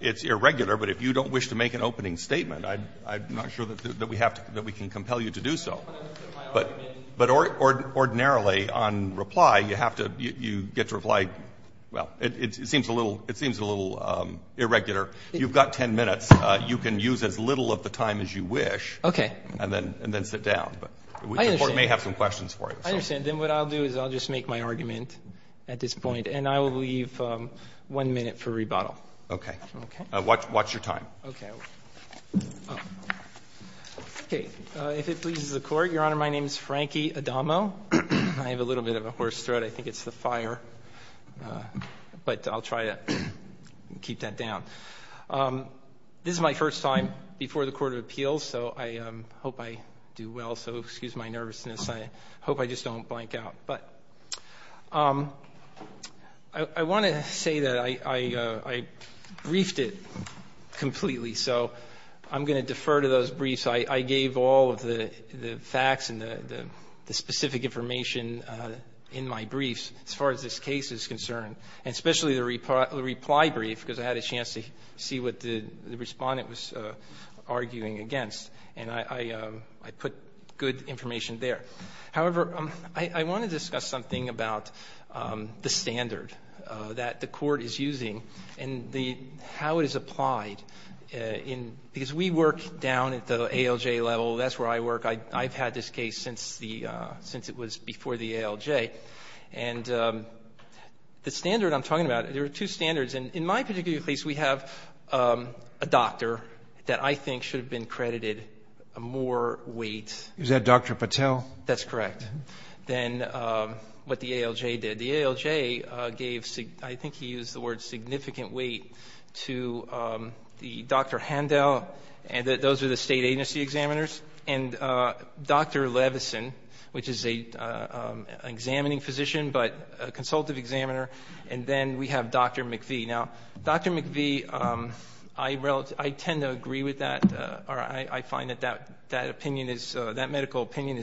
It's irregular, but if you don't wish to make an opening statement, I'm not sure that we have to, that we can compel you to do so. But ordinarily, on reply, you have to, you know, it seems a little irregular. You've got 10 minutes. You can use as little of the time as you wish and then sit down. But the court may have some questions for you. I understand. Then what I'll do is I'll just make my argument at this point, and I will leave one minute for rebuttal. Okay. Watch your time. Okay. If it pleases the court, Your Honor, my name is Frankie Adamo. I have a little bit of a horse throat. I think it's the fire. But I'll try to keep that down. This is my first time before the Court of Appeals, so I hope I do well. So excuse my nervousness. I hope I just don't blank out. But I want to say that I briefed it completely. So I'm going to defer to those briefs. I gave all of the facts and the specific information in my briefs as far as this case is concerned, and especially the reply brief, because I had a chance to see what the Respondent was arguing against. And I put good information there. However, I want to discuss something about the standard that the Court is using and how it is applied. Because we work down at the ALJ level. That's where I work. I've had this case since it was before the ALJ. And the standard I'm talking about, there are two standards. And in my particular case, we have a doctor that I think should have been credited more weight. Is that Dr. Patel? That's correct. Then what the ALJ did. The ALJ gave, I think he used the word significant weight to Dr. Handel, and those are the State Agency examiners, and Dr. Levison, which is an examining physician, but a consultative examiner, and then we have Dr. McVie. Now, Dr. McVie, I tend to agree with that, or I find that that opinion is, that medical opinion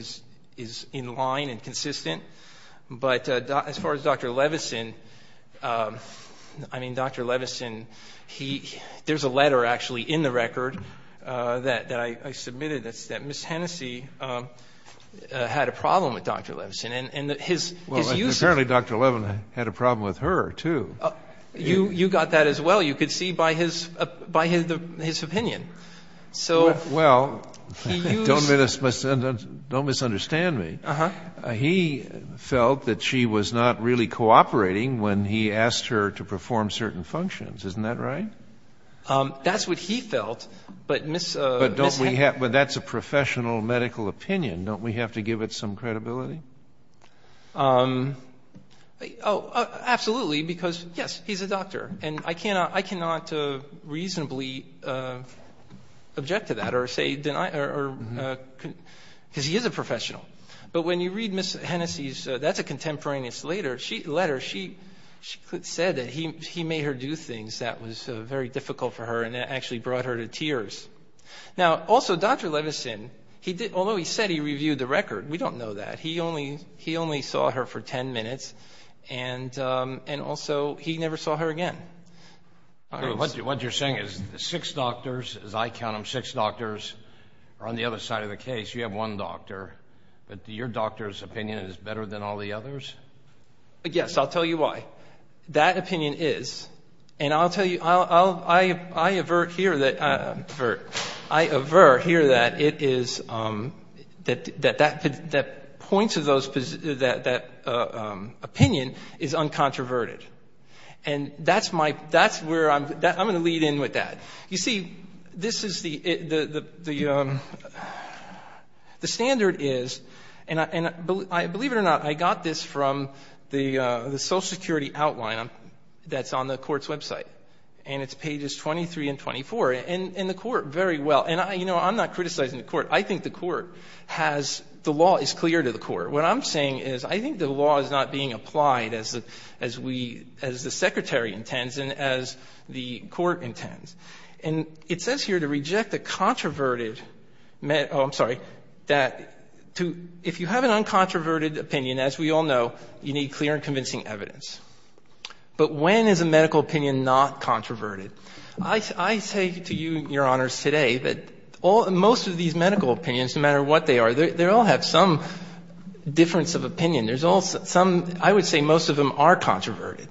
is in line and consistent. But as far as Dr. Levison, I mean, Dr. Levison, he, there's a letter actually in the record that I submitted that said Ms. Hennessey had a problem with Dr. Levison. And his use of Well, apparently Dr. Levison had a problem with her, too. You got that as well. You could see by his opinion. So Well, don't misunderstand me. He felt that she was not really cooperating when he asked her to perform certain functions. Isn't that right? That's what he felt, but Ms. But don't we have, that's a professional medical opinion. Don't we have to give it some credibility? Oh, absolutely, because yes, he's a doctor, and I cannot reasonably object to that or say deny, because he is a professional. But when you read Ms. Hennessey's, that's a contemporaneous letter, she said that he made her do things that was very difficult for her and actually brought her to tears. Now, also, Dr. Levison, although he said he reviewed the record, we don't know that. He only saw her for 10 minutes, and also he never saw her again. What you're saying is the six doctors, as I count them, six doctors are on the other side of the case. You have one doctor, but your doctor's opinion is better than all the others? Yes, I'll tell you why. That opinion is, and I'll tell you, I avert here that it is, that that point of those, that opinion is uncontroverted. And that's my, that's where I'm going to lead in with that. You see, this is the, the standard is, and believe it or not, I got this from the social security outline that's on the Court's website, and it's pages 23 and 24, and the Court very well, and I, you know, I'm not criticizing the Court. I think the Court has, the law is clear to the Court. What I'm saying is I think the law is not being applied as the, as we, as the Secretary intends and as the Court intends. And it says here to reject a controverted, oh, I'm sorry, that to, if you have an uncontroverted opinion, as we all know, you need clear and convincing evidence. But when is a medical opinion not controverted? I, I say to you, Your Honors, today that all, most of these medical opinions, no matter what they are, they all have some difference of opinion. There's all some, I would say most of them are controverted.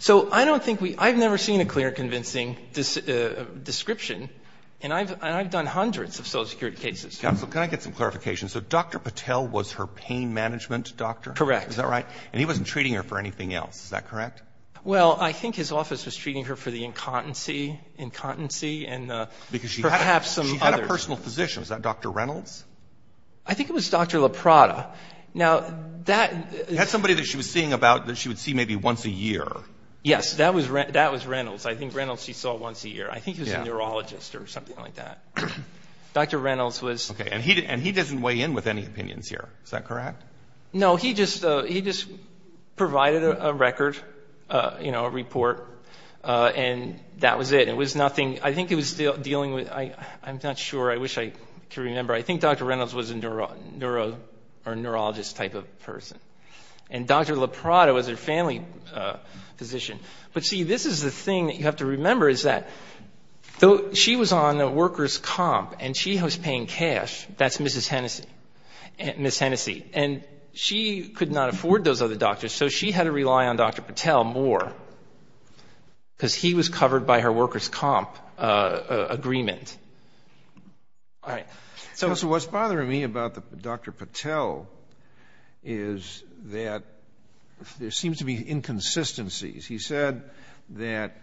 So I don't think we, I've never seen a clear and convincing description, and I've, and I've done hundreds of social security cases. Counsel, can I get some clarification? So Dr. Patel was her pain management doctor? Correct. Is that right? And he wasn't treating her for anything else. Is that correct? Well, I think his office was treating her for the incontency, incontency, and perhaps some other. Because she had a, she had a personal physician. Was that Dr. Reynolds? I think it was Dr. LaPrada. Now, that. That's somebody that she was seeing about, that she would see maybe once a year. Yes. That was, that was Reynolds. I think Reynolds she saw once a year. I think it was a neurologist or something like that. Dr. Reynolds was. Okay. And he, and he doesn't weigh in with any opinions here. Is that correct? No, he just, he just provided a record, you know, a report, and that was it. It was nothing. I think it was dealing with, I'm not sure. I wish I could remember. I think Dr. Reynolds was a neuro, neuro, or neurologist type of person. And Dr. LaPrada was her family physician. But see, this is the thing that you have to remember is that though she was on a worker's comp and she was paying cash, that's Mrs. Hennessey, and she could not afford those other doctors, so she had to rely on Dr. Patel more because he was covered by her worker's comp agreement. All right. Counsel, what's bothering me about Dr. Patel is that there seems to be inconsistencies. He said that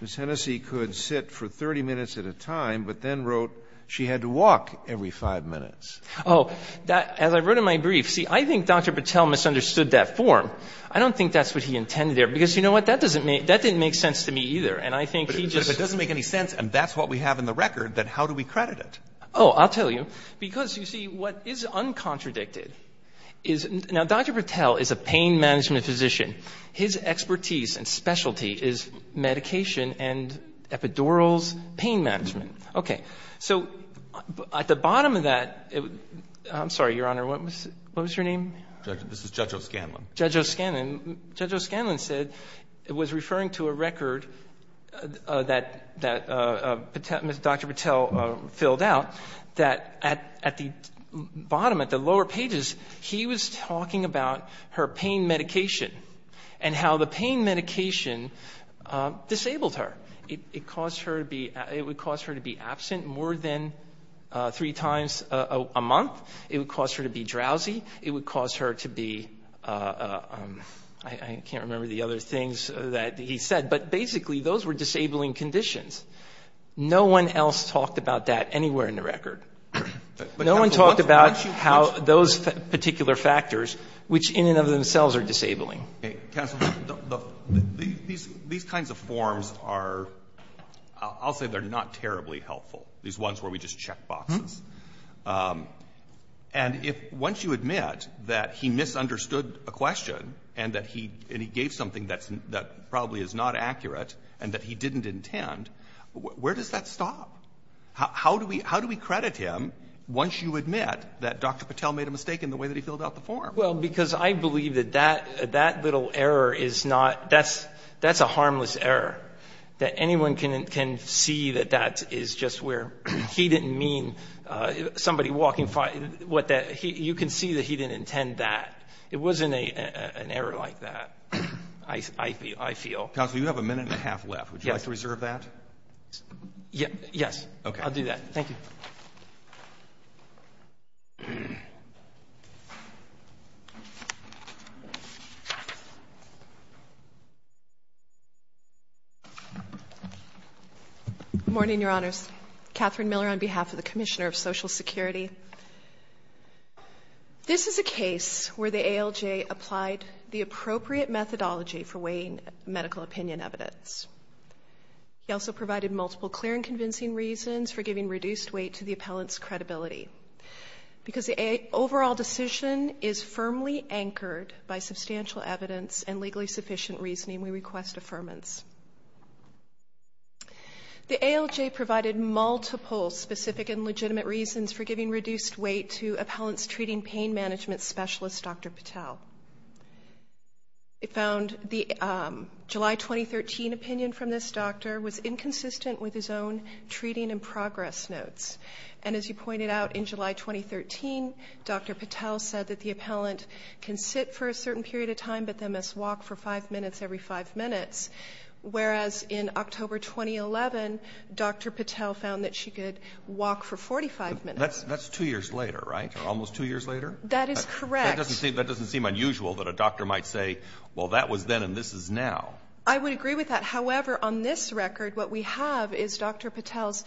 Mrs. Hennessey could sit for 30 minutes at a time, but then wrote she had to walk every five minutes. Oh, that, as I wrote in my brief, see, I think Dr. Patel misunderstood that form. I don't think that's what he intended there because, you know what, that doesn't make, that didn't make sense to me either. And I think he just. But if it doesn't make any sense and that's what we have in the record, then how do we credit it? Oh, I'll tell you. Because, you see, what is uncontradicted is, now Dr. Patel is a pain management physician. His expertise and specialty is medication and epidurals pain management. Okay. So at the bottom of that, I'm sorry, Your Honor, what was your name? This is Judge O'Scanlan. Judge O'Scanlan. Judge O'Scanlan said, was referring to a record that Dr. Patel filled out that at the bottom, at the lower pages, he was talking about her pain medication and how the pain medication disabled her. It caused her to be, it would cause her to be absent more than three times a month. It would cause her to be drowsy. It would cause her to be, I can't remember the other things that he said, but basically those were disabling conditions. No one else talked about that anywhere in the record. No one talked about how those particular factors, which in and of themselves are disabling. Okay. Counsel, these kinds of forms are, I'll say they're not terribly helpful, these ones where we just check boxes. And if once you admit that he misunderstood a question and that he gave something that probably is not accurate and that he didn't intend, where does that stop? How do we credit him once you admit that Dr. Patel made a mistake in the way that he filled out the form? Well, because I believe that that little error is not, that's a harmless error, that anyone can see that that is just where he didn't mean somebody walking by, you can see that he didn't intend that. It wasn't an error like that, I feel. Counsel, you have a minute and a half left. Would you like to reserve that? Yes. I'll do that. Thank you. Good morning, Your Honors. Catherine Miller on behalf of the Commissioner of Social Security. This is a case where the ALJ applied the appropriate methodology for weighing medical opinion evidence. He also provided multiple clear and convincing reasons for giving reduced weight to the appellant's credibility. Because the overall decision is firmly anchored by substantial evidence and legally sufficient reasoning, we request affirmance. The ALJ provided multiple specific and legitimate reasons for giving reduced weight to appellant's treating pain management specialist, Dr. Patel. It found the July 2013 opinion from this doctor was inconsistent with his own treating and progress notes. And as you pointed out, in July 2013, Dr. Patel said that the appellant can sit for a certain period of time, but they must walk for five minutes every five minutes. Whereas in October 2011, Dr. Patel found that she could walk for 45 minutes. That's two years later, right, or almost two years later? That is correct. That doesn't seem unusual that a doctor might say, well, that was then and this is now. I would agree with that. However, on this record, what we have is Dr. Patel's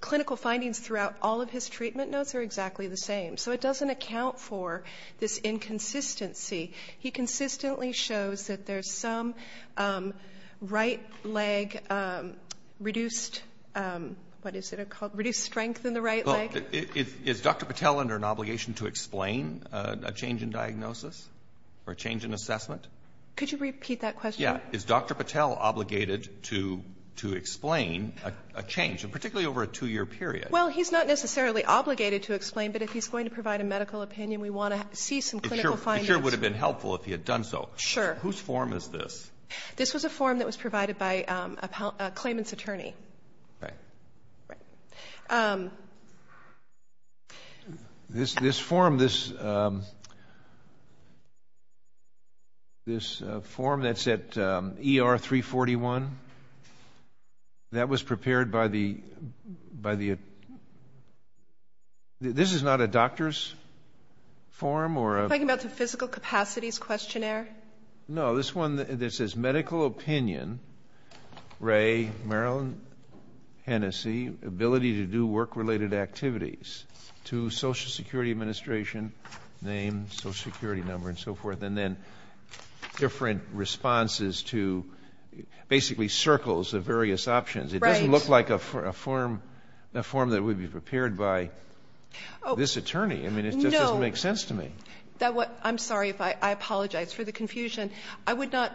clinical findings throughout all of his treatment notes are exactly the same. So it doesn't account for this inconsistency. He consistently shows that there's some right leg reduced strength in the right leg. Is Dr. Patel under an obligation to explain a change in diagnosis or a change in assessment? Could you repeat that question? Yeah. Is Dr. Patel obligated to explain a change, particularly over a two-year period? Well, he's not necessarily obligated to explain, but if he's going to provide a medical opinion, we want to see some clinical findings. It sure would have been helpful if he had done so. Sure. Whose form is this? This was a form that was provided by a claimant's attorney. Right. This form that's at ER 341, that was prepared by the – this is not a doctor's form? Are you talking about the physical capacities questionnaire? No, this one that says medical opinion, Ray, Maryland, Hennessy, ability to do work-related activities to Social Security Administration, name, Social Security number, and so forth, and then different responses to basically circles of various options. Right. It doesn't look like a form that would be prepared by this attorney. I mean, it just doesn't make sense to me. I'm sorry if I apologize for the confusion. I would not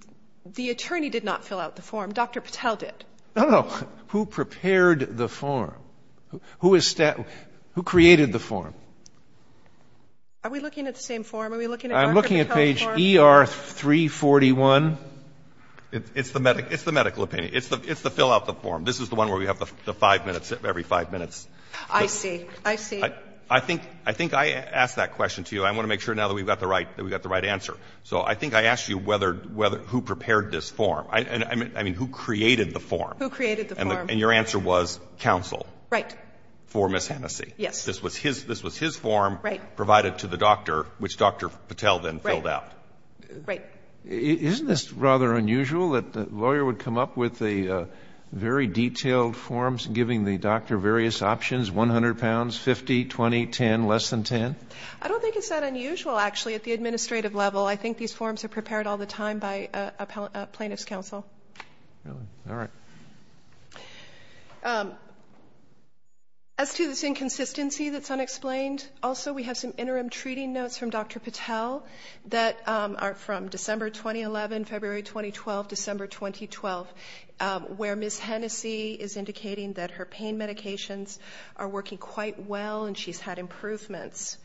– the attorney did not fill out the form. Dr. Patel did. No, no. Who prepared the form? Who created the form? Are we looking at the same form? Are we looking at Dr. Patel's form? I'm looking at page ER 341. It's the medical opinion. It's the fill out the form. This is the one where we have the five minutes, every five minutes. I see. I see. I have a question to you. I want to make sure now that we've got the right answer. So I think I asked you whether – who prepared this form. I mean, who created the form? Who created the form. And your answer was counsel. Right. For Ms. Hennessy. Yes. This was his form provided to the doctor, which Dr. Patel then filled out. Right. Isn't this rather unusual that the lawyer would come up with the very detailed forms giving the doctor various options, 100 pounds, 50, 20, 10, less than 10? I don't think it's that unusual, actually, at the administrative level. I think these forms are prepared all the time by a plaintiff's counsel. Really? All right. As to this inconsistency that's unexplained, also we have some interim treating notes from Dr. Patel that are from December 2011, February 2012, December 2012, where Ms. Hennessy is indicating that her pain medications are working quite well and she's had improvements.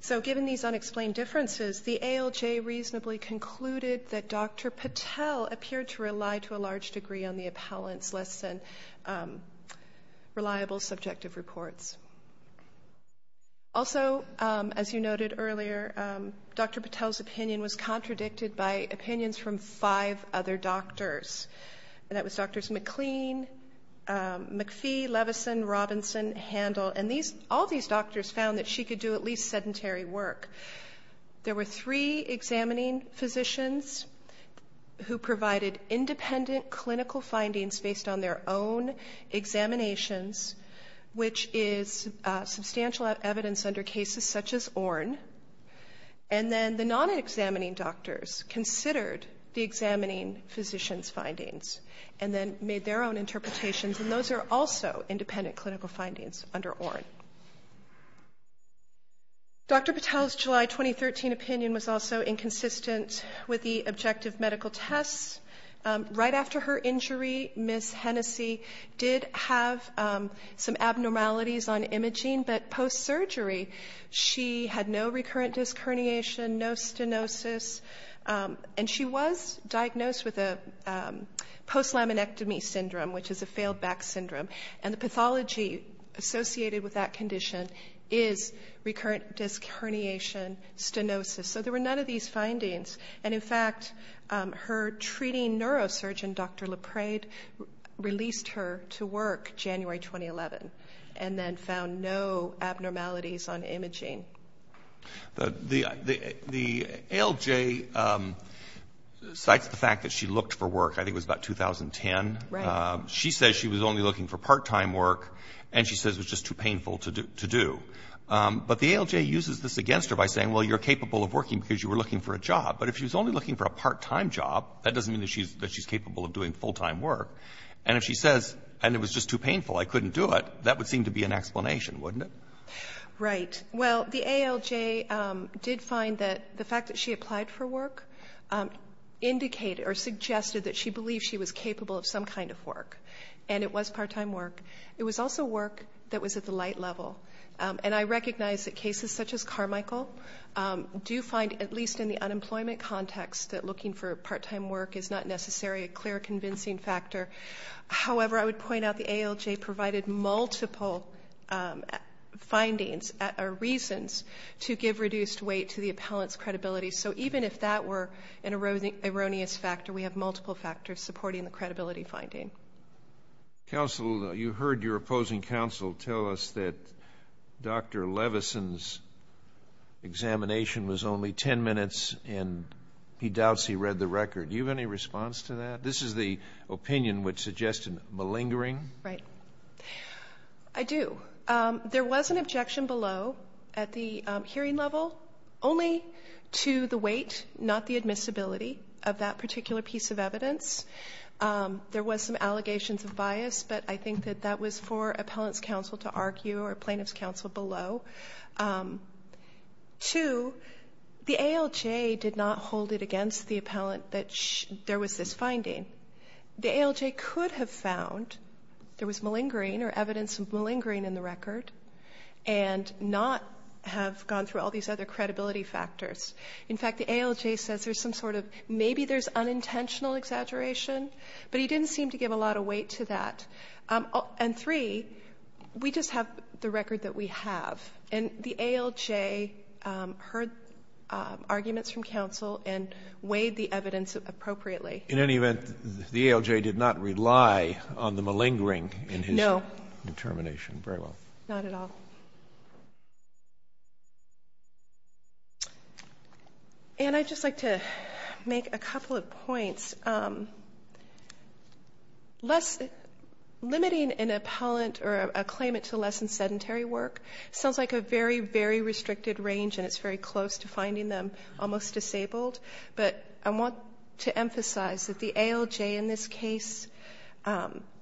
So given these unexplained differences, the ALJ reasonably concluded that Dr. Patel appeared to rely to a large degree on the appellant's less than reliable subjective reports. Also, as you noted earlier, Dr. Patel's opinion was contradicted by opinions from five other doctors. And that was Drs. McLean, McPhee, Levison, Robinson, Handel. And all these doctors found that she could do at least sedentary work. There were three examining physicians who provided independent clinical findings based on their own examinations, which is substantial evidence under cases such as reexamining physicians' findings, and then made their own interpretations. And those are also independent clinical findings under ORN. Dr. Patel's July 2013 opinion was also inconsistent with the objective medical tests. Right after her injury, Ms. Hennessy did have some abnormalities on imaging, but post-surgery she had no recurrent disc herniation, no stenosis. And she was diagnosed with a post-laminectomy syndrome, which is a failed back syndrome. And the pathology associated with that condition is recurrent disc herniation, stenosis. So there were none of these findings. And, in fact, her treating neurosurgeon, Dr. Leprade, released her to work January 2011 and then found no abnormalities on imaging. The ALJ cites the fact that she looked for work, I think it was about 2010. Right. She says she was only looking for part-time work, and she says it was just too painful to do. But the ALJ uses this against her by saying, well, you're capable of working because you were looking for a job. But if she was only looking for a part-time job, that doesn't mean that she's capable of doing full-time work. And if she says, and it was just too painful, I couldn't do it, that would seem to be an explanation, wouldn't it? Right. Well, the ALJ did find that the fact that she applied for work indicated or suggested that she believed she was capable of some kind of work, and it was part-time work. It was also work that was at the light level. And I recognize that cases such as Carmichael do find, at least in the unemployment context, that looking for part-time work is not necessarily a clear convincing factor. However, I would point out the ALJ provided multiple findings or reasons to give reduced weight to the appellant's credibility. So even if that were an erroneous factor, we have multiple factors supporting the credibility finding. Counsel, you heard your opposing counsel tell us that Dr. Levison's examination was only 10 minutes, and he doubts he read the record. Do you have any response to that? This is the opinion which suggested malingering. Right. I do. There was an objection below at the hearing level only to the weight, not the admissibility, of that particular piece of evidence. There was some allegations of bias, but I think that that was for appellant's counsel to argue or plaintiff's counsel below. Two, the ALJ did not hold it against the appellant that there was this finding. The ALJ could have found there was malingering or evidence of malingering in the record and not have gone through all these other credibility factors. In fact, the ALJ says there's some sort of maybe there's unintentional exaggeration, but he didn't seem to give a lot of weight to that. And three, we just have the record that we have, and the ALJ heard arguments from counsel and weighed the evidence appropriately. In any event, the ALJ did not rely on the malingering in his determination. No. Very well. Not at all. And I'd just like to make a couple of points. Limiting an appellant or a claimant to less than sedentary work sounds like a very, very restricted range, and it's very close to finding them almost disabled. But I want to emphasize that the ALJ in this case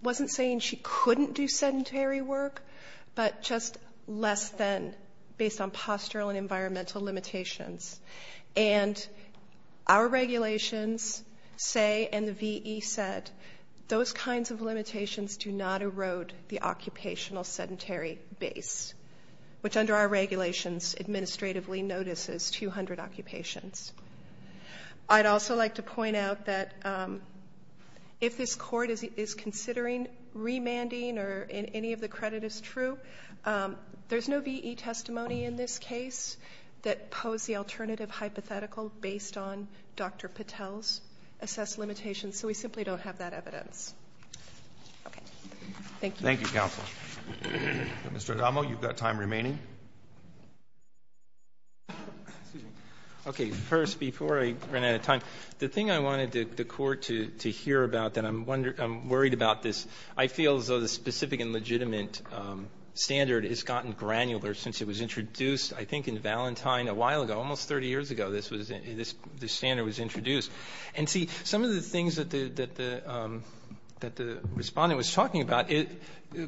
wasn't saying she couldn't do sedentary work, but just less than based on postural and environmental limitations. And our regulations say and the VE said those kinds of limitations do not erode the occupational sedentary base, which under our regulations administratively notices 200 occupations. I'd also like to point out that if this court is considering remanding or any of the credit is true, there's no VE testimony in this case that posed the alternative hypothetical based on Dr. Patel's assessed limitations, so we simply don't have that evidence. Okay. Thank you. Thank you, counsel. Mr. Adamo, you've got time remaining. Excuse me. Okay. First, before I run out of time, the thing I wanted the court to hear about that I'm worried about this, I feel as though the specific and legitimate standard has gotten granular since it was introduced, I think, in Valentine a while ago, almost 30 years ago this standard was introduced. And, see, some of the things that the respondent was talking about, it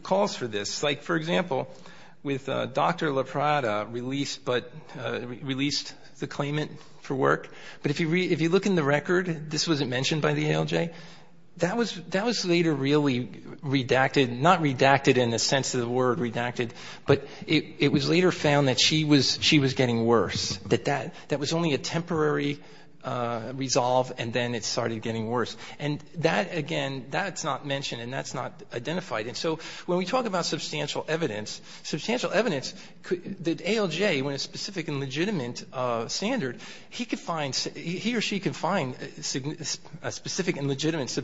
calls for this. Like, for example, with Dr. La Prada released the claimant for work, but if you look in the record this wasn't mentioned by the ALJ, that was later really redacted, not redacted in the sense of the word redacted, but it was later found that she was getting worse, that that was only a temporary resolve and then it started getting worse. And that, again, that's not mentioned and that's not identified. And so when we talk about substantial evidence, substantial evidence that ALJ, when a specific and legitimate standard, he could find, he or she could find specific and legitimate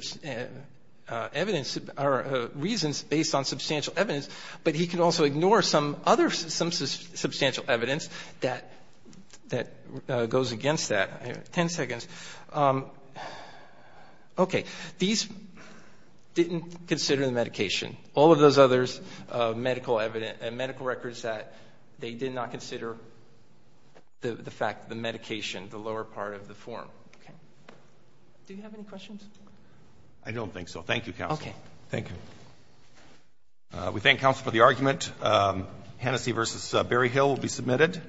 evidence or reasons based on substantial evidence, but he could also ignore some other substantial evidence that goes against that. Ten seconds. Okay. These didn't consider the medication. All of those others medical records that they did not consider the fact that the medication, the lower part of the form. Okay. Do you have any questions? I don't think so. Thank you, counsel. Okay. Thank you. We thank counsel for the argument. Hennessey v. Berryhill will be submitted.